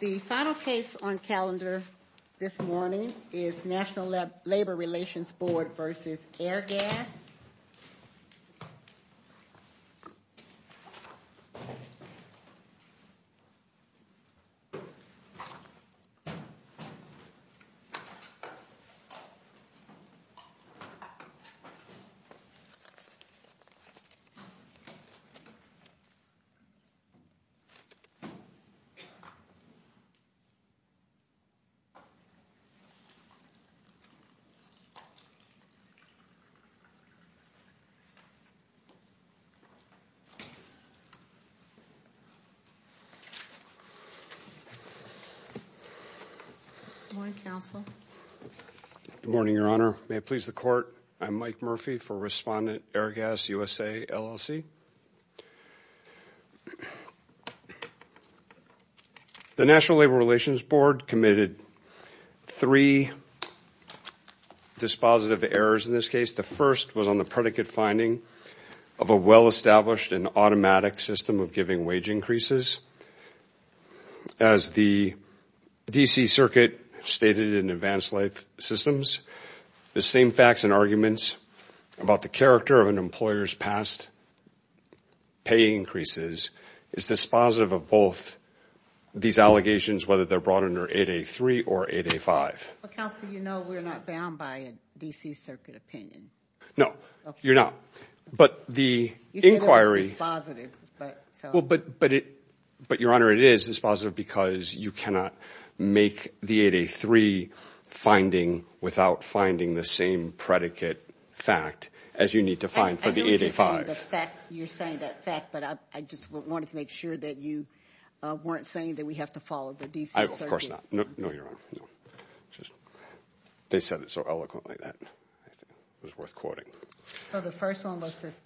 The final case on calendar this morning is National Labor Relations Board v. Airgas. Good morning, Your Honor, may it please the Court, I'm Mike Murphy for Respondent Airgas USA, LLC. The National Labor Relations Board committed three dispositive errors in this case. The first was on the predicate finding of a well-established and automatic system of giving wage increases. As the D.C. Circuit stated in Advanced Life Systems, the same facts and arguments about the character of an employer's past pay increases is dispositive of both these allegations, whether they're brought under 8.A.3 or 8.A.5. Counsel, you know we're not bound by a D.C. Circuit opinion. No, you're not. But the inquiry... You said it was dispositive, but... But Your Honor, it is dispositive because you cannot make the 8.A.3 finding without finding the same predicate fact as you need to find for the 8.A.5. I know you're saying that fact, but I just wanted to make sure that you weren't saying that we have to follow the D.C. Circuit. Of course not. No, Your Honor. They said it so eloquently that it was worth quoting. So the first one was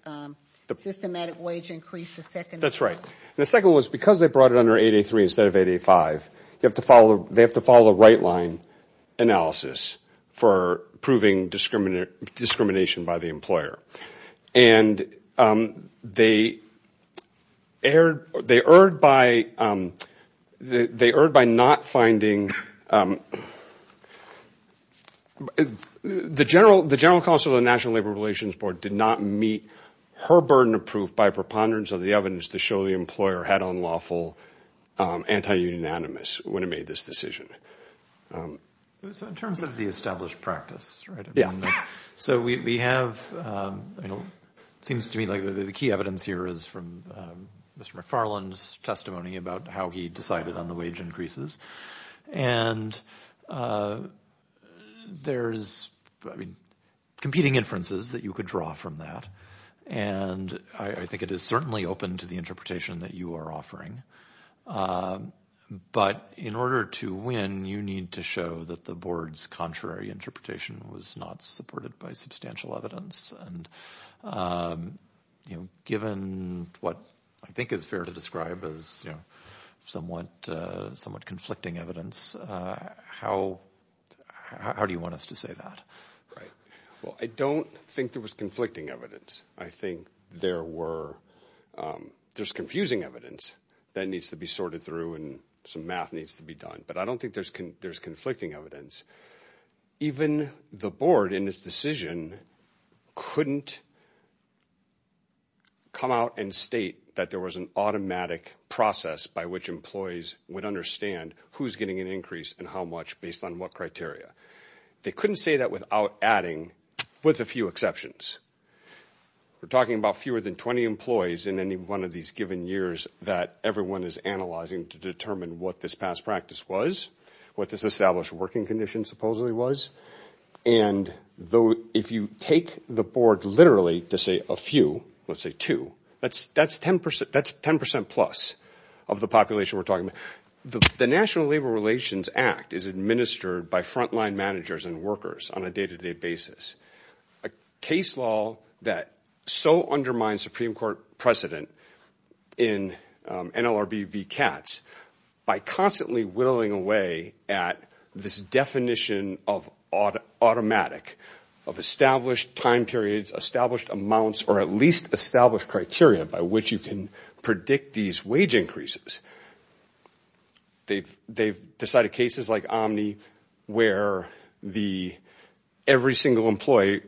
the systematic wage increase, the second... That's right. And the second was because they brought it under 8.A.3 instead of 8.A.5, they have to follow a right-line analysis for proving discrimination by the employer. And they erred by not finding... The General Counsel of the National Labor Relations Board did not meet her burden of proof by preponderance of the evidence to show the employer had unlawful anti-unanimous when it made this decision. So in terms of the established practice, right? So we have... It seems to me like the key evidence here is from Mr. McFarland's testimony about how he decided on the wage increases. And there's competing inferences that you could draw from that, and I think it is certainly open to the interpretation that you are offering. But in order to win, you need to show that the board's contrary interpretation was not supported by substantial evidence. And given what I think is fair to describe as somewhat conflicting evidence, how do you want us to say that? Right. Well, I don't think there was conflicting evidence. I think there were... There's confusing evidence that needs to be sorted through and some math needs to be done. But I don't think there's conflicting evidence. Even the board in its decision couldn't come out and state that there was an automatic process by which employees would understand who's getting an increase and how much based on what criteria. They couldn't say that without adding, with a few exceptions. We're talking about fewer than 20 employees in any one of these given years that everyone is analyzing to determine what this past practice was, what this established working condition supposedly was. And if you take the board literally to say a few, let's say two, that's 10% plus of the population we're talking about. The National Labor Relations Act is administered by frontline managers and workers on a day-to-day basis. A case law that so undermines Supreme Court precedent in NLRB v. CATS by constantly whittling away at this definition of automatic, of established time periods, established amounts, or at least they've decided cases like Omni where every single employee,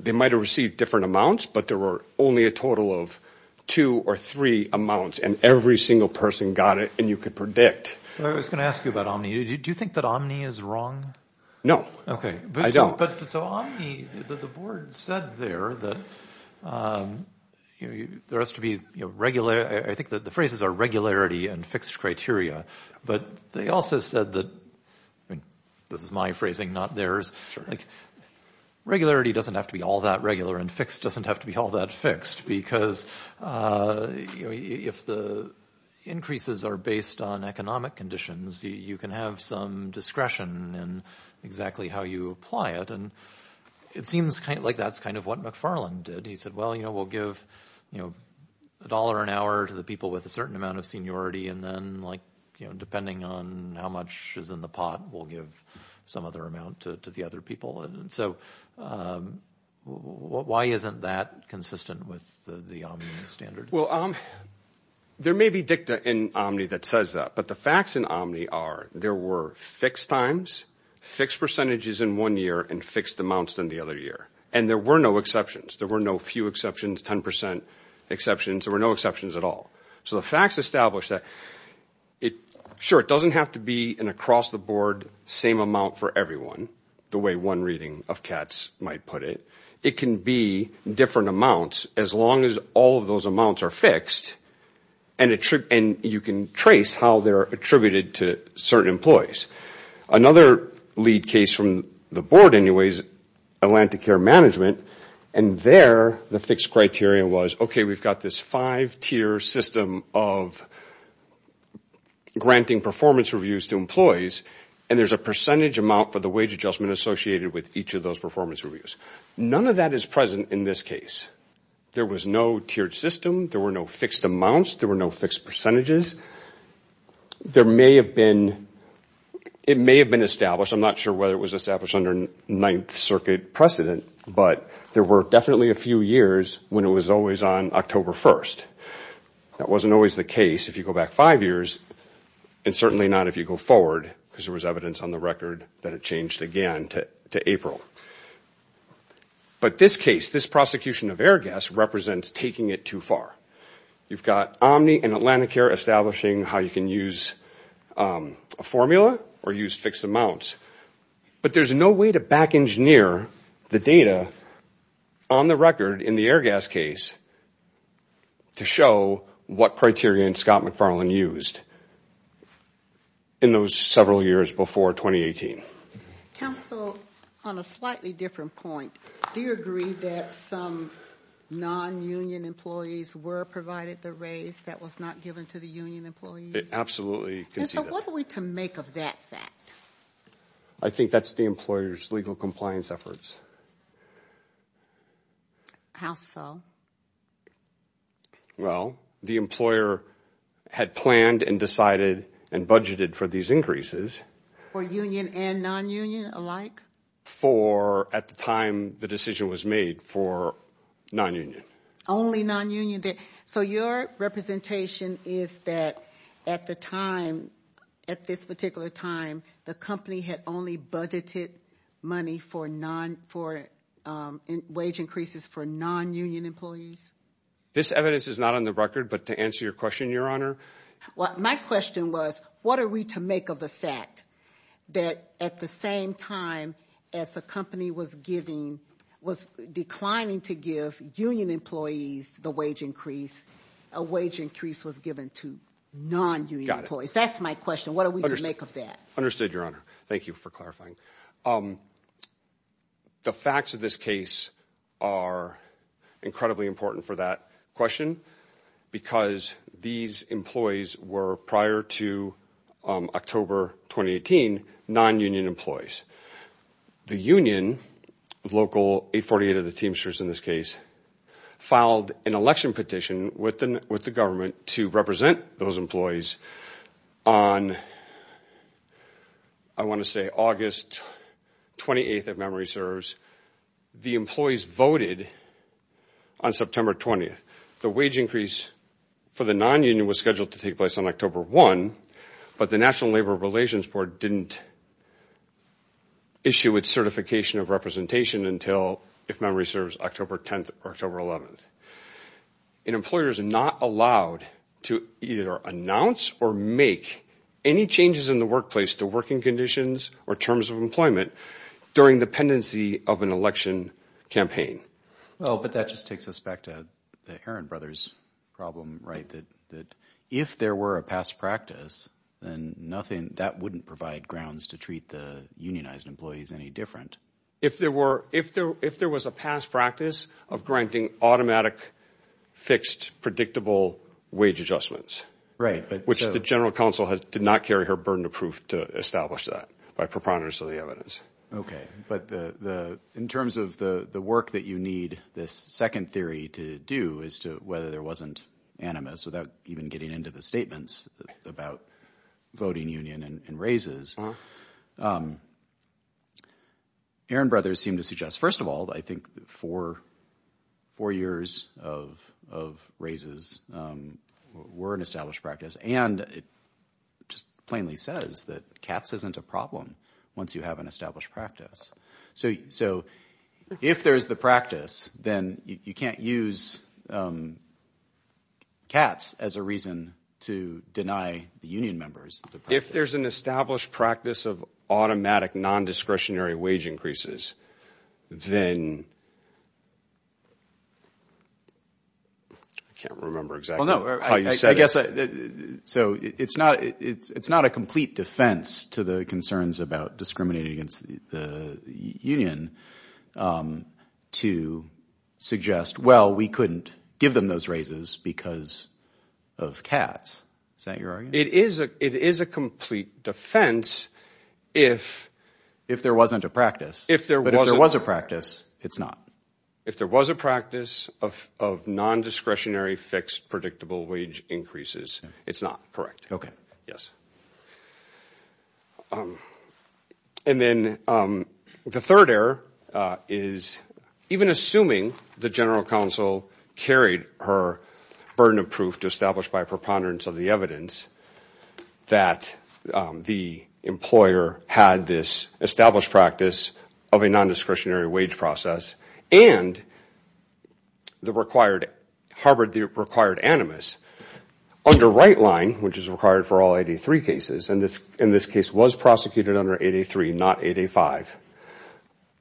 they might have received different amounts, but there were only a total of two or three amounts and every single person got it and you could predict. I was going to ask you about Omni. Do you think that Omni is wrong? No. Okay. I don't. But so Omni, the board said there that there has to be, I think the phrases are regularity and fixed criteria. But they also said that, this is my phrasing, not theirs, regularity doesn't have to be all that regular and fixed doesn't have to be all that fixed because if the increases are based on economic conditions, you can have some discretion in exactly how you apply it. And it seems like that's kind of what McFarland did. He said, well, we'll give a dollar an hour to the people with a certain amount of seniority and then depending on how much is in the pot, we'll give some other amount to the other people. And so why isn't that consistent with the Omni standard? Well, there may be dicta in Omni that says that, but the facts in Omni are there were fixed times, fixed percentages in one year, and fixed amounts in the other year. And there were no exceptions. There were no few exceptions, 10% exceptions, there were no exceptions at all. So the facts establish that, sure, it doesn't have to be an across the board same amount for everyone, the way one reading of Katz might put it. It can be different amounts as long as all of those amounts are fixed and you can trace how they're attributed to certain employees. Another lead case from the board anyways, Atlantic Care Management, and there the fixed criteria was, okay, we've got this five-tier system of granting performance reviews to employees and there's a percentage amount for the wage adjustment associated with each of those performance reviews. None of that is present in this case. There was no tiered system, there were no fixed amounts, there were no fixed percentages. There may have been, it may have been established, I'm not sure whether it was established under Ninth Circuit precedent, but there were definitely a few years when it was always on October 1st. That wasn't always the case if you go back five years, and certainly not if you go forward, because there was evidence on the record that it changed again to April. But this case, this prosecution of air gas represents taking it too far. You've got Omni and Atlantic Care establishing how you can use a formula or use fixed amounts. But there's no way to back engineer the data on the record in the air gas case to show what criteria Scott McFarland used in those several years before 2018. Counsel, on a slightly different point, do you agree that some non-union employees were provided the raise that was not given to the union employees? Absolutely. And so what are we to make of that fact? I think that's the employer's legal compliance efforts. How so? Well, the employer had planned and decided and budgeted for these increases. For union and non-union alike? For, at the time the decision was made, for non-union. Only non-union? So your representation is that at the time, at this particular time, the company had only budgeted money for wage increases for non-union employees? This evidence is not on the record, but to answer your question, Your Honor. Well, my question was, what are we to make of the fact that at the same time as the company was giving, was declining to give union employees the wage increase, a wage increase was given to non-union employees? That's my question. What are we to make of that? Understood, Your Honor. Thank you for clarifying. The facts of this case are incredibly important for that question because these employees were, prior to October 2018, non-union employees. The union, local 848 of the Teamsters in this case, filed an election petition with the government to represent those employees on, I want to say, August 28th, if memory serves. The employees voted on September 20th. The wage increase for the non-union was scheduled to take place on October 1, but the National Labor Relations Board didn't issue its certification of representation until, if memory serves, October 10th or October 11th. An employer is not allowed to either announce or make any changes in the workplace to working conditions or terms of employment during dependency of an election campaign. Well, but that just takes us back to the Herron Brothers problem, right? That if there were a past practice, then nothing, that wouldn't provide grounds to treat the unionized employees any different. If there was a past practice of granting automatic, fixed, predictable wage adjustments, which the General Counsel did not carry her burden of proof to establish that by preponderance of the evidence. Okay. But in terms of the work that you need this second theory to do as to whether there wasn't animus without even getting into the statements about voting union and raises. Herron Brothers seem to suggest, first of all, I think four years of raises were an established practice. And it just plainly says that cats isn't a problem once you have an established practice. So if there's the practice, then you can't use cats as a reason to deny the union members. If there's an established practice of automatic non-discretionary wage increases, then I can't remember exactly how you said it. So it's not a complete defense to the concerns about discriminating against the union to suggest, well, we couldn't give them those raises because of cats. Is that your argument? It is a complete defense if. If there wasn't a practice. But if there was a practice, it's not. If there was a practice of non-discretionary fixed predictable wage increases, it's not correct. Yes. And then the third error is even assuming the general counsel carried her burden of proof to establish by preponderance of the evidence that the employer had this established practice of a non-discretionary wage process and harbored the required animus under right line, which is required for all 83 cases. And this case was prosecuted under 83, not 85.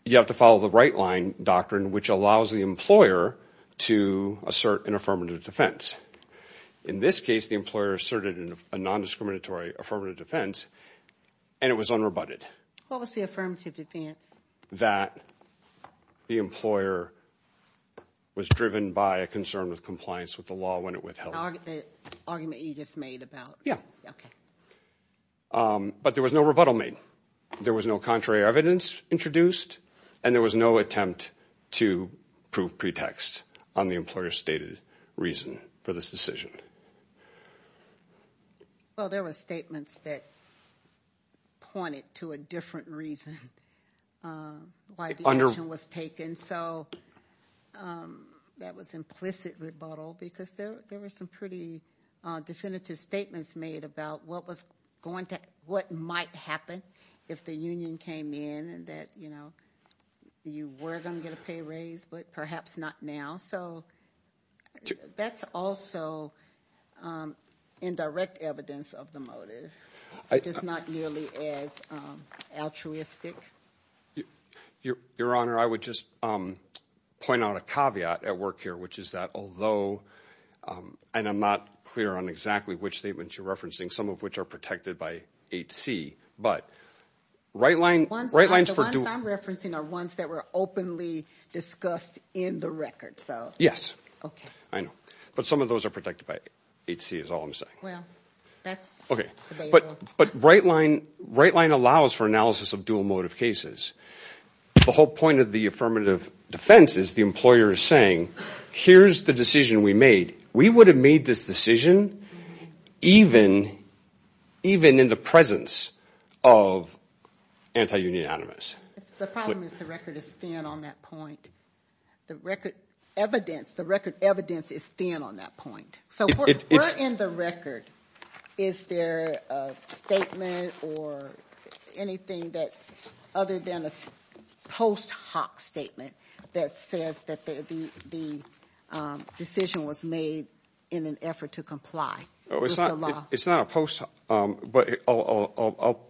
You have to follow the right line doctrine, which allows the employer to assert an affirmative defense. In this case, the employer asserted a non-discriminatory affirmative defense, and it was unrebutted. What was the affirmative defense? That the employer was driven by a concern with compliance with the law when it withheld. The argument you just made about? Yeah. Okay. But there was no rebuttal made. There was no contrary evidence introduced, and there was no attempt to prove pretext on the employer's stated reason for this decision. Well, there were statements that pointed to a different reason why the action was taken. So that was implicit rebuttal because there were some pretty definitive statements made about what might happen if the union came in and that you were going to get a pay raise, but perhaps not now. So that's also indirect evidence of the motive. It is not nearly as altruistic. Your Honor, I would just point out a caveat at work here, which is that although, and I'm not clear on exactly which statements you're referencing, some of which are protected by 8C, but right lines... The ones I'm referencing are ones that were openly discussed in the record. Yes. Okay. I know. But some of those are protected by 8C is all I'm saying. Well, that's... But right line allows for analysis of dual motive cases. The whole point of the affirmative defense is the employer is saying, here's the decision we made. We would have made this decision even in the presence of anti-union animus. The problem is the record is thin on that point. The record evidence is thin on that point. So if we're in the record, is there a statement or anything other than a post hoc statement that says that the decision was made in an effort to comply with the law? It's not a post hoc, but I'll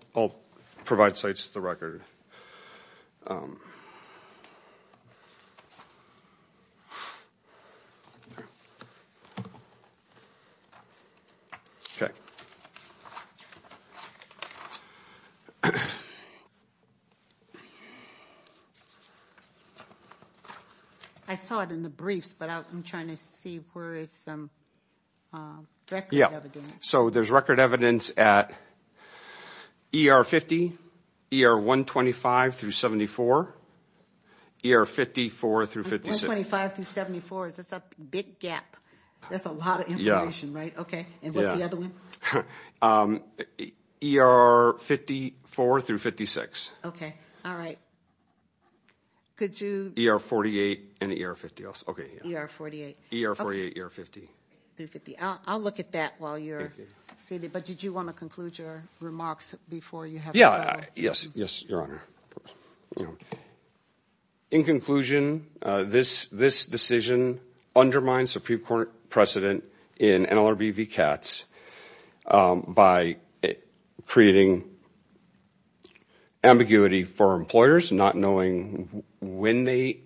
provide sites to the record. Okay. Okay. I saw it in the briefs, but I'm trying to see where is some record evidence. So there's record evidence at ER 50, ER 125 through 74, ER 54 through 56. 125 through 74, is this a big gap? That's a lot of information, right? Okay. And what's the other one? ER 54 through 56. Okay. All right. Could you... ER 48 and ER 50. Okay. ER 48. ER 48, ER 50. I'll look at that while you're seated. But did you want to conclude your remarks before you have... Yeah. Yes. Yes, Your Honor. In conclusion, this decision undermines Supreme Court precedent in NLRB v. CATS by creating ambiguity for employers not knowing when they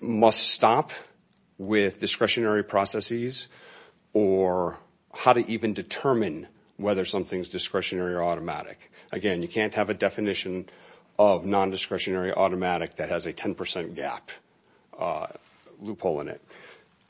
must stop with discretionary processes or how to even determine whether something is discretionary or automatic. Again, you can't have a definition of non-discretionary automatic that has a 10% gap loophole in it.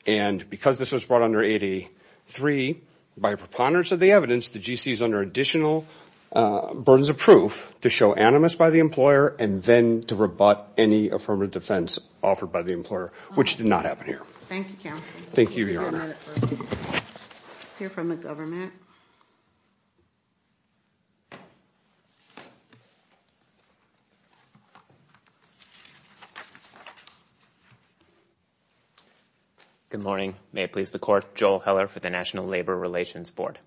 And because this was brought under 83, by preponderance of the evidence, the GC is under additional burdens of proof to show animus by the employer and then to rebut any affirmative defense offered by the employer, which did not happen here. Thank you, counsel. Thank you, Your Honor. Let's hear from the government. Good morning. May it please the Court, Joel Heller for the National Labor Relations Board.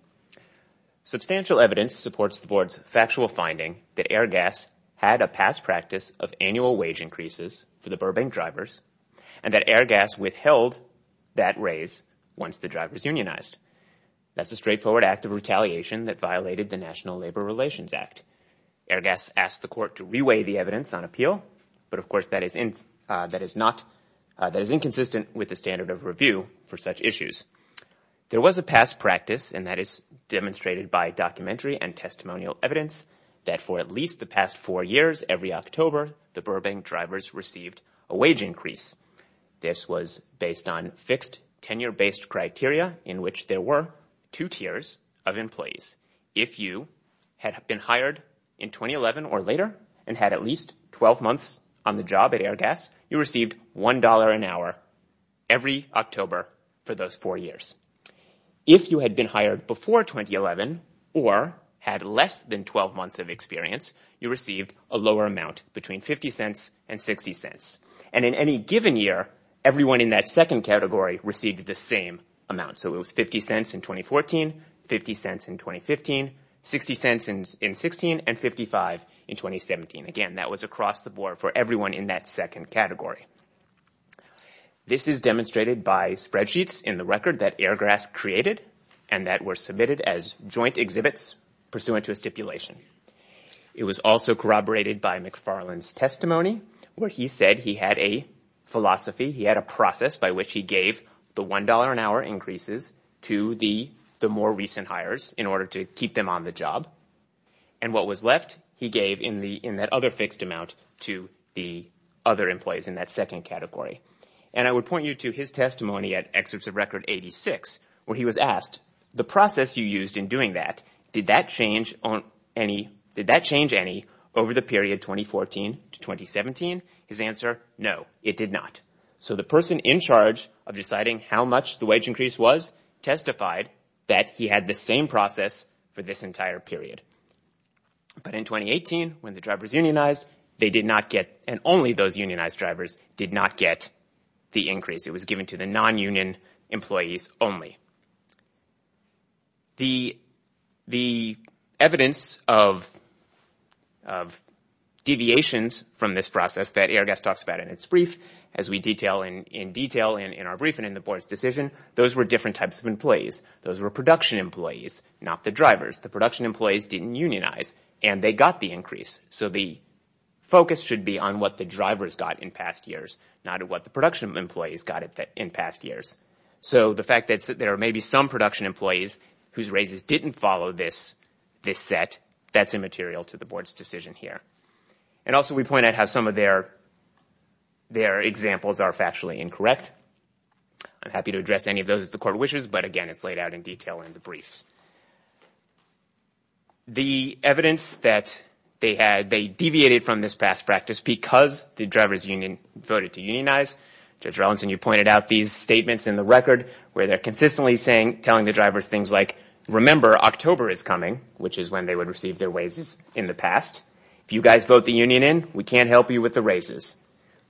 Substantial evidence supports the Board's factual finding that Airgas had a past practice of annual wage increases for the Burbank drivers and that Airgas withheld that raise once the drivers unionized. That's a straightforward act of retaliation that violated the National Labor Relations Act. Airgas asked the Court to reweigh the evidence on appeal, but of course that is inconsistent with the standard of review for such issues. There was a past practice, and that is demonstrated by documentary and testimonial evidence, that for at least the past four years, every October, the Burbank drivers received a wage increase. This was based on fixed tenure-based criteria in which there were two tiers of employees. If you had been hired in 2011 or later and had at least 12 months on the job at Airgas, you received $1 an hour every October for those four years. If you had been hired before 2011 or had less than 12 months of experience, you received a lower amount, between $0.50 and $0.60. And in any given year, everyone in that second category received the same amount. So it was $0.50 in 2014, $0.50 in 2015, $0.60 in 2016, and $0.55 in 2017. Again, that was across the board for everyone in that second category. This is demonstrated by spreadsheets in the record that Airgas created and that were submitted as joint exhibits pursuant to a stipulation. It was also corroborated by McFarland's testimony, where he said he had a philosophy, he had a process by which he gave the $1 an hour increases to the more recent hires in order to keep them on the job. And what was left he gave in that other fixed amount to the other employees in that second category. And I would point you to his testimony at Excerpts of Record 86, where he was asked, the process you used in doing that, did that change any over the period 2014 to 2017? His answer, no, it did not. So the person in charge of deciding how much the wage increase was testified that he had the same process for this entire period. But in 2018, when the drivers unionized, they did not get, and only those unionized drivers, did not get the increase. It was given to the non-union employees only. The evidence of deviations from this process that Airgas talks about in its brief, as we detail in detail in our brief and in the board's decision, those were different types of employees. Those were production employees, not the drivers. The production employees didn't unionize, and they got the increase. So the focus should be on what the drivers got in past years, not what the production employees got in past years. So the fact that there may be some production employees whose raises didn't follow this set, that's immaterial to the board's decision here. And also we point out how some of their examples are factually incorrect. I'm happy to address any of those if the court wishes, but, again, it's laid out in detail in the briefs. The evidence that they deviated from this past practice because the drivers union voted to unionize. Judge Relinson, you pointed out these statements in the record where they're consistently telling the drivers things like, remember, October is coming, which is when they would receive their raises in the past. If you guys vote the union in, we can't help you with the raises.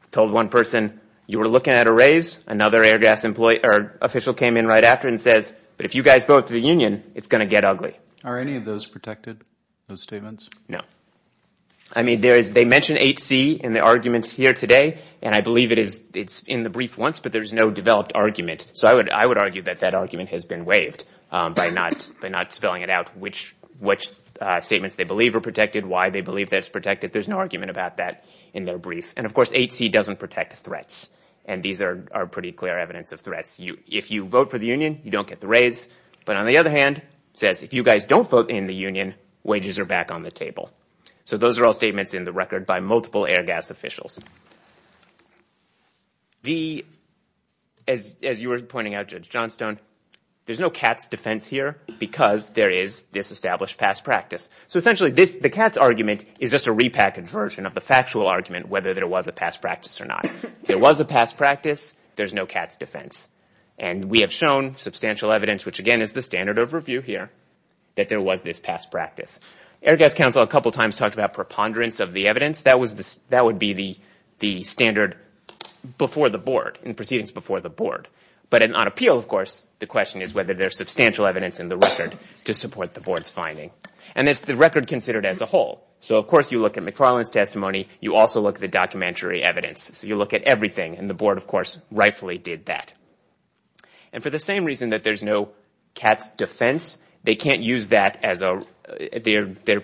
I told one person, you were looking at a raise. Another Airgas official came in right after and says, but if you guys vote the union, it's going to get ugly. Are any of those protected, those statements? No. I mean, they mention 8C in the arguments here today, and I believe it's in the brief once, but there's no developed argument. So I would argue that that argument has been waived by not spelling it out, which statements they believe are protected, why they believe that it's protected. There's no argument about that in their brief. And, of course, 8C doesn't protect threats, and these are pretty clear evidence of threats. If you vote for the union, you don't get the raise. But on the other hand, it says if you guys don't vote in the union, wages are back on the table. So those are all statements in the record by multiple Airgas officials. As you were pointing out, Judge Johnstone, there's no Katz defense here because there is this established past practice. So essentially, the Katz argument is just a repackaged version of the factual argument, whether there was a past practice or not. If there was a past practice, there's no Katz defense. And we have shown substantial evidence, which, again, is the standard of review here, that there was this past practice. Airgas counsel a couple times talked about preponderance of the evidence. That would be the standard before the board, in proceedings before the board. But on appeal, of course, the question is whether there's substantial evidence in the record to support the board's finding. And it's the record considered as a whole. So, of course, you look at McFarland's testimony. You also look at the documentary evidence. You look at everything. And the board, of course, rightfully did that. And for the same reason that there's no Katz defense, they can't use their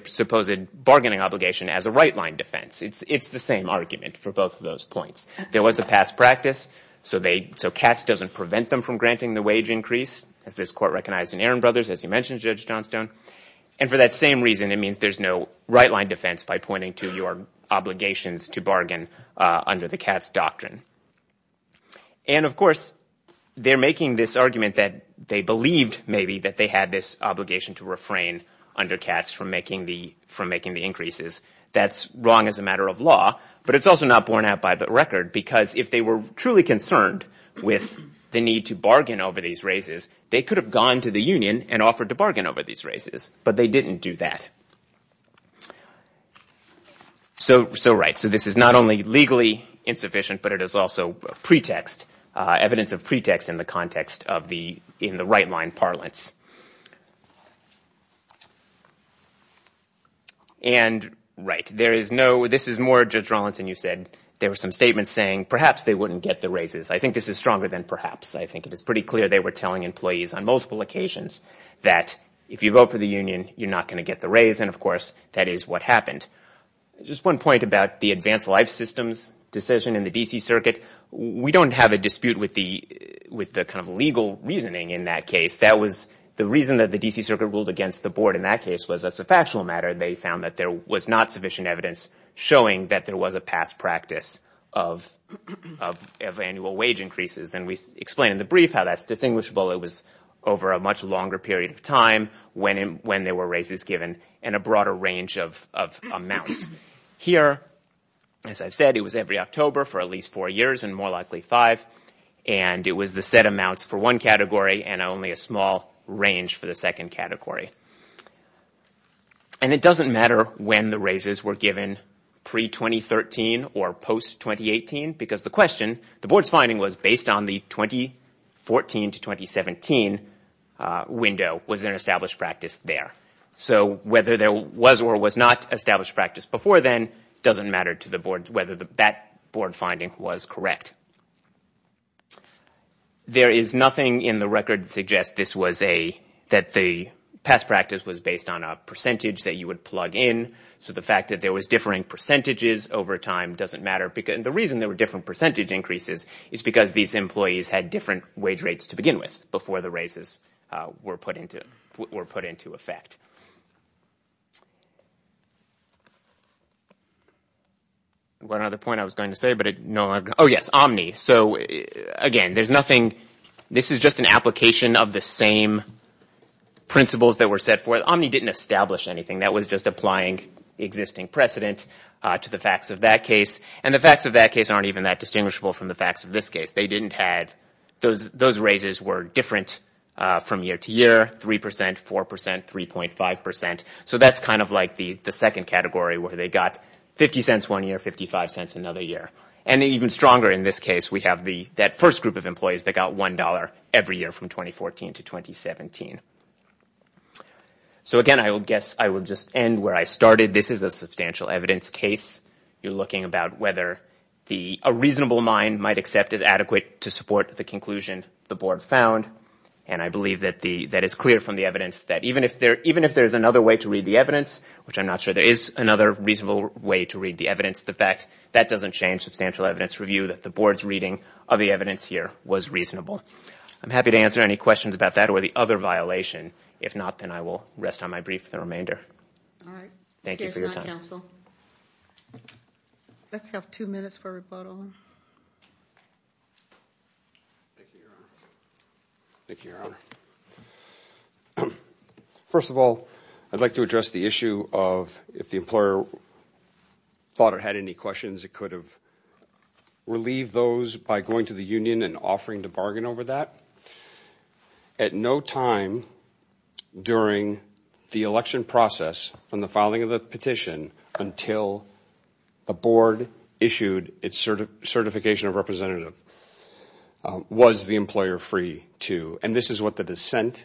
supposed bargaining obligation as a right-line defense. It's the same argument for both of those points. There was a past practice, so Katz doesn't prevent them from granting the wage increase, as this court recognized in Aaron Brothers, as you mentioned, Judge Johnstone. And for that same reason, it means there's no right-line defense by pointing to your obligations to bargain under the Katz doctrine. And, of course, they're making this argument that they believed, maybe, that they had this obligation to refrain under Katz from making the increases. That's wrong as a matter of law, but it's also not borne out by the record because if they were truly concerned with the need to bargain over these raises, they could have gone to the union and offered to bargain over these raises, but they didn't do that. So, right. So this is not only legally insufficient, but it is also a pretext, evidence of pretext in the context of the right-line parlance. And, right. This is more, Judge Rawlinson, you said, there were some statements saying perhaps they wouldn't get the raises. I think this is stronger than perhaps. I think it is pretty clear they were telling employees on multiple occasions that if you vote for the union, you're not going to get the raise, and, of course, that is what happened. Just one point about the advanced life systems decision in the D.C. Circuit. We don't have a dispute with the kind of legal reasoning in that case. That was the reason that the D.C. Circuit ruled against the board in that case was as a factual matter they found that there was not sufficient evidence showing that there was a past practice of annual wage increases. And we explained in the brief how that's distinguishable. It was over a much longer period of time when there were raises given and a broader range of amounts. Here, as I've said, it was every October for at least four years and more likely five. And it was the set amounts for one category and only a small range for the second category. And it doesn't matter when the raises were given, pre-2013 or post-2018, because the question, the board's finding was based on the 2014 to 2017 window. Was there an established practice there? So whether there was or was not established practice before then doesn't matter to the board whether that board finding was correct. There is nothing in the record that suggests that the past practice was based on a percentage that you would plug in, so the fact that there was differing percentages over time doesn't matter. And the reason there were different percentage increases is because these employees had different wage rates to begin with before the raises were put into effect. One other point I was going to say, but no longer. Oh, yes, Omni. So, again, there's nothing. This is just an application of the same principles that were set forth. Omni didn't establish anything. That was just applying existing precedent to the facts of that case. And the facts of that case aren't even that distinguishable from the facts of this case. Those raises were different from year to year, 3%, 4%, 3.5%. So that's kind of like the second category where they got 50 cents one year, 55 cents another year. And even stronger in this case, we have that first group of employees that got $1 every year from 2014 to 2017. So, again, I guess I will just end where I started. This is a substantial evidence case. You're looking about whether a reasonable mind might accept as adequate to support the conclusion the Board found. And I believe that is clear from the evidence that even if there's another way to read the evidence, which I'm not sure there is another reasonable way to read the evidence, the fact that doesn't change substantial evidence review, that the Board's reading of the evidence here was reasonable. I'm happy to answer any questions about that or the other violation. If not, then I will rest on my brief for the remainder. All right. Thank you for your time. Thank you, counsel. Let's have two minutes for rebuttal. Thank you, Your Honor. First of all, I'd like to address the issue of if the employer thought or had any questions, it could have relieved those by going to the union and offering to bargain over that. At no time during the election process from the filing of the petition until a Board issued its certification of representative was the employer free to, and this is what the dissent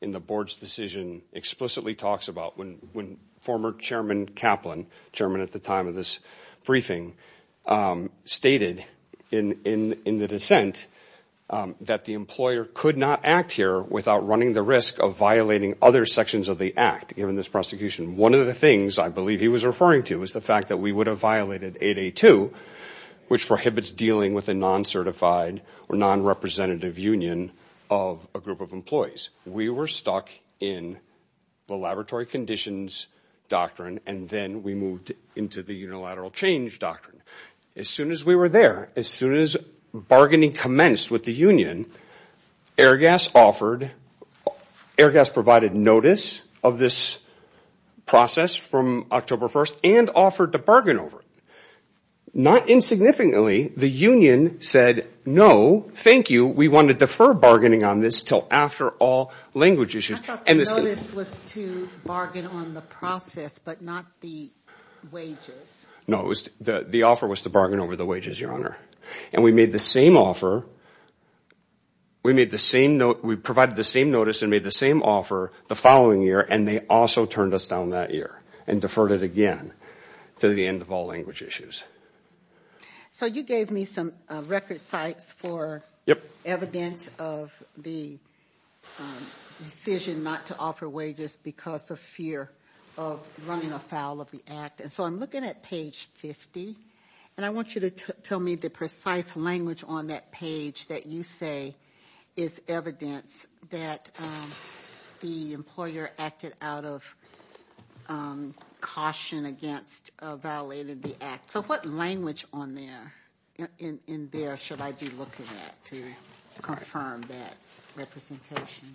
in the Board's decision explicitly talks about. When former Chairman Kaplan, chairman at the time of this briefing, stated in the dissent that the employer could not act here without running the risk of violating other sections of the act given this prosecution. One of the things I believe he was referring to is the fact that we would have violated 8A2, which prohibits dealing with a non-certified or non-representative union of a group of employees. We were stuck in the laboratory conditions doctrine, and then we moved into the unilateral change doctrine. As soon as we were there, as soon as bargaining commenced with the union, Airgas provided notice of this process from October 1st and offered to bargain over it. Not insignificantly, the union said, no, thank you, we want to defer bargaining on this until after all language issues. I thought the notice was to bargain on the process but not the wages. No, the offer was to bargain over the wages, Your Honor. And we made the same offer. We provided the same notice and made the same offer the following year, and they also turned us down that year and deferred it again to the end of all language issues. So you gave me some record sites for evidence of the decision not to offer wages because of fear of running afoul of the act. So I'm looking at page 50, and I want you to tell me the precise language on that page that you say is evidence that the employer acted out of caution against violating the act. So what language in there should I be looking at to confirm that representation?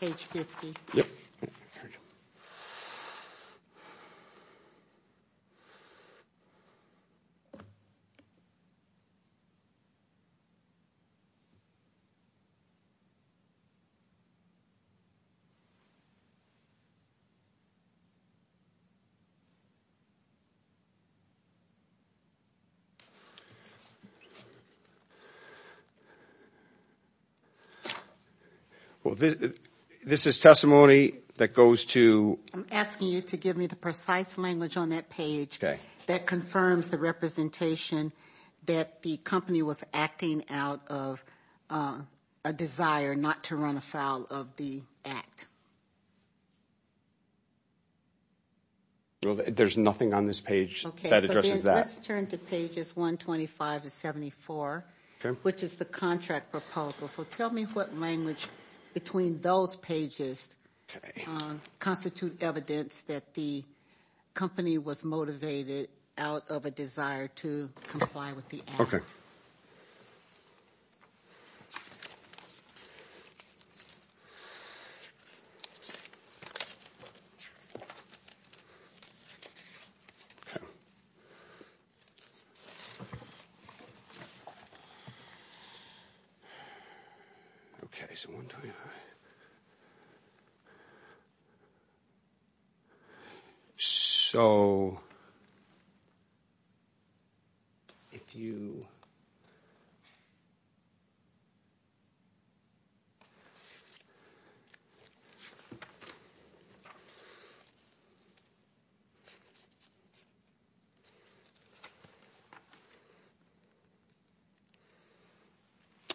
Page 50? Yep. All right. This is testimony that goes to ‑‑ I'm asking you to give me the precise language on that page that confirms the representation that the company was acting out of a desire not to run afoul of the act. There's nothing on this page that addresses that. Okay, so let's turn to pages 125 to 74, which is the contract proposal. So tell me what language between those pages constitute evidence that the company was motivated out of a desire to comply with the act. Okay. Okay. Page 125. Okay. So if you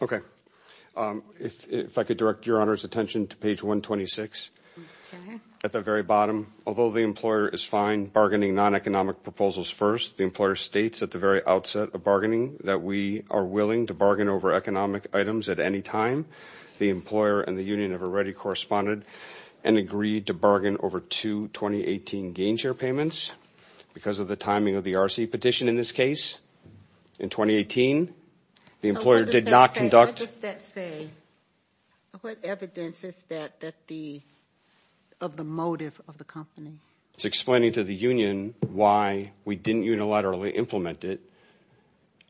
‑‑ Okay. If I could direct your Honor's attention to page 126. Okay. At the very bottom, although the employer is fine bargaining non‑economic proposals first, the employer states at the very outset of bargaining that we are willing to bargain over economic items at any time. The employer and the union have already corresponded and agreed to bargain over two 2018 gain share payments because of the timing of the RC petition in this case in 2018. So what does that say? The employer did not conduct ‑‑ What does that say? What evidence is that of the motive of the company? It's explaining to the union why we didn't unilaterally implement it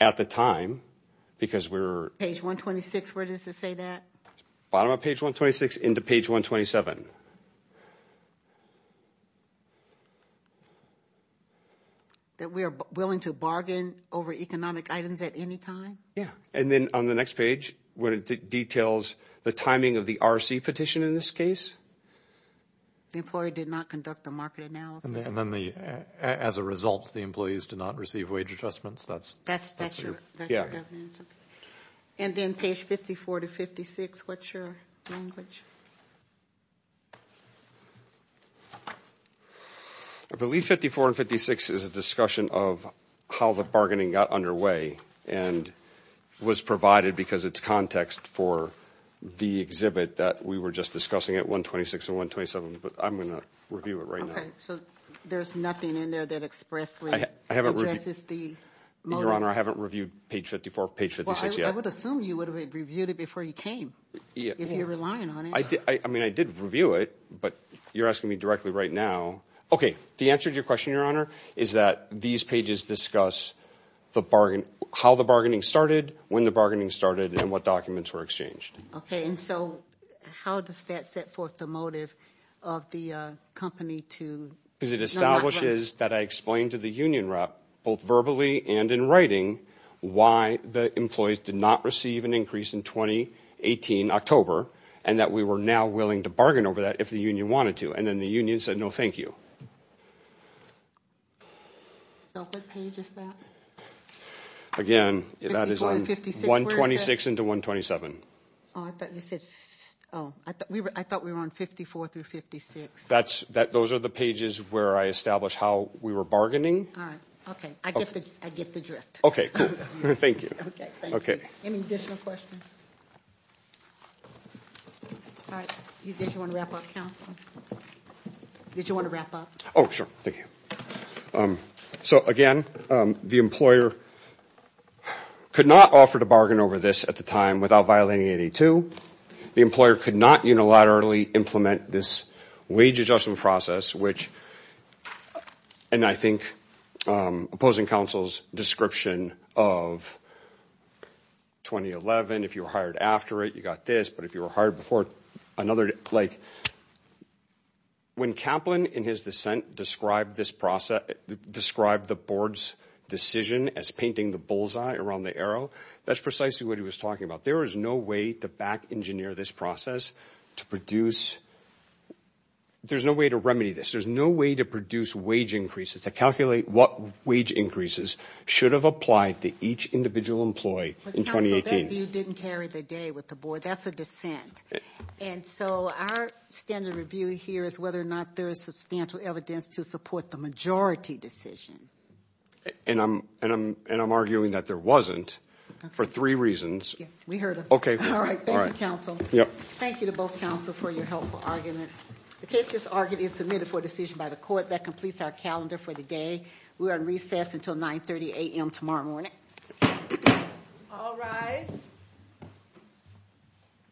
at the time because we were ‑‑ Page 126, where does it say that? Bottom of page 126 into page 127. That we are willing to bargain over economic items at any time? Yeah. And then on the next page where it details the timing of the RC petition in this case? The employer did not conduct a market analysis. And then as a result, the employees did not receive wage adjustments. That's your governance? And then page 54 to 56, what's your language? I believe 54 and 56 is a discussion of how the bargaining got underway and was provided because it's context for the exhibit that we were just discussing at 126 and 127, but I'm going to review it right now. So there's nothing in there that expressly addresses the motive? Your Honor, I haven't reviewed page 54, page 56 yet. Well, I would assume you would have reviewed it before you came if you're relying on it. I mean, I did review it, but you're asking me directly right now. Okay. The answer to your question, Your Honor, is that these pages discuss how the bargaining started, when the bargaining started, and what documents were exchanged. Okay. And so how does that set forth the motive of the company to not run? Because it establishes that I explained to the union rep, both verbally and in writing, why the employees did not receive an increase in 2018, October, and that we were now willing to bargain over that if the union wanted to. And then the union said, no, thank you. So what page is that? Again, that is on 126 into 127. Oh, I thought you said, oh, I thought we were on 54 through 56. Those are the pages where I established how we were bargaining. All right. Okay. I get the drift. Okay. Cool. Thank you. Okay. Thank you. Any additional questions? All right. Did you want to wrap up, counsel? Did you want to wrap up? Oh, sure. Thank you. So, again, the employer could not offer to bargain over this at the time without violating 82. The employer could not unilaterally implement this wage adjustment process, which, and I think opposing counsel's description of 2011, if you were hired after it, you got this. But if you were hired before another, like, when Kaplan in his dissent described this process, described the board's decision as painting the bullseye around the arrow, that's precisely what he was talking about. There is no way to back engineer this process to produce, there's no way to remedy this. There's no way to produce wage increases to calculate what wage increases should have applied to each individual employee in 2018. The standard review didn't carry the day with the board. That's a dissent. And so our standard review here is whether or not there is substantial evidence to support the majority decision. And I'm arguing that there wasn't for three reasons. We heard them. Okay. All right. Thank you, counsel. Thank you to both counsel for your helpful arguments. The case is argued and submitted for decision by the court. That completes our calendar for the day. We are on recess until 9.30 a.m. tomorrow morning. All rise.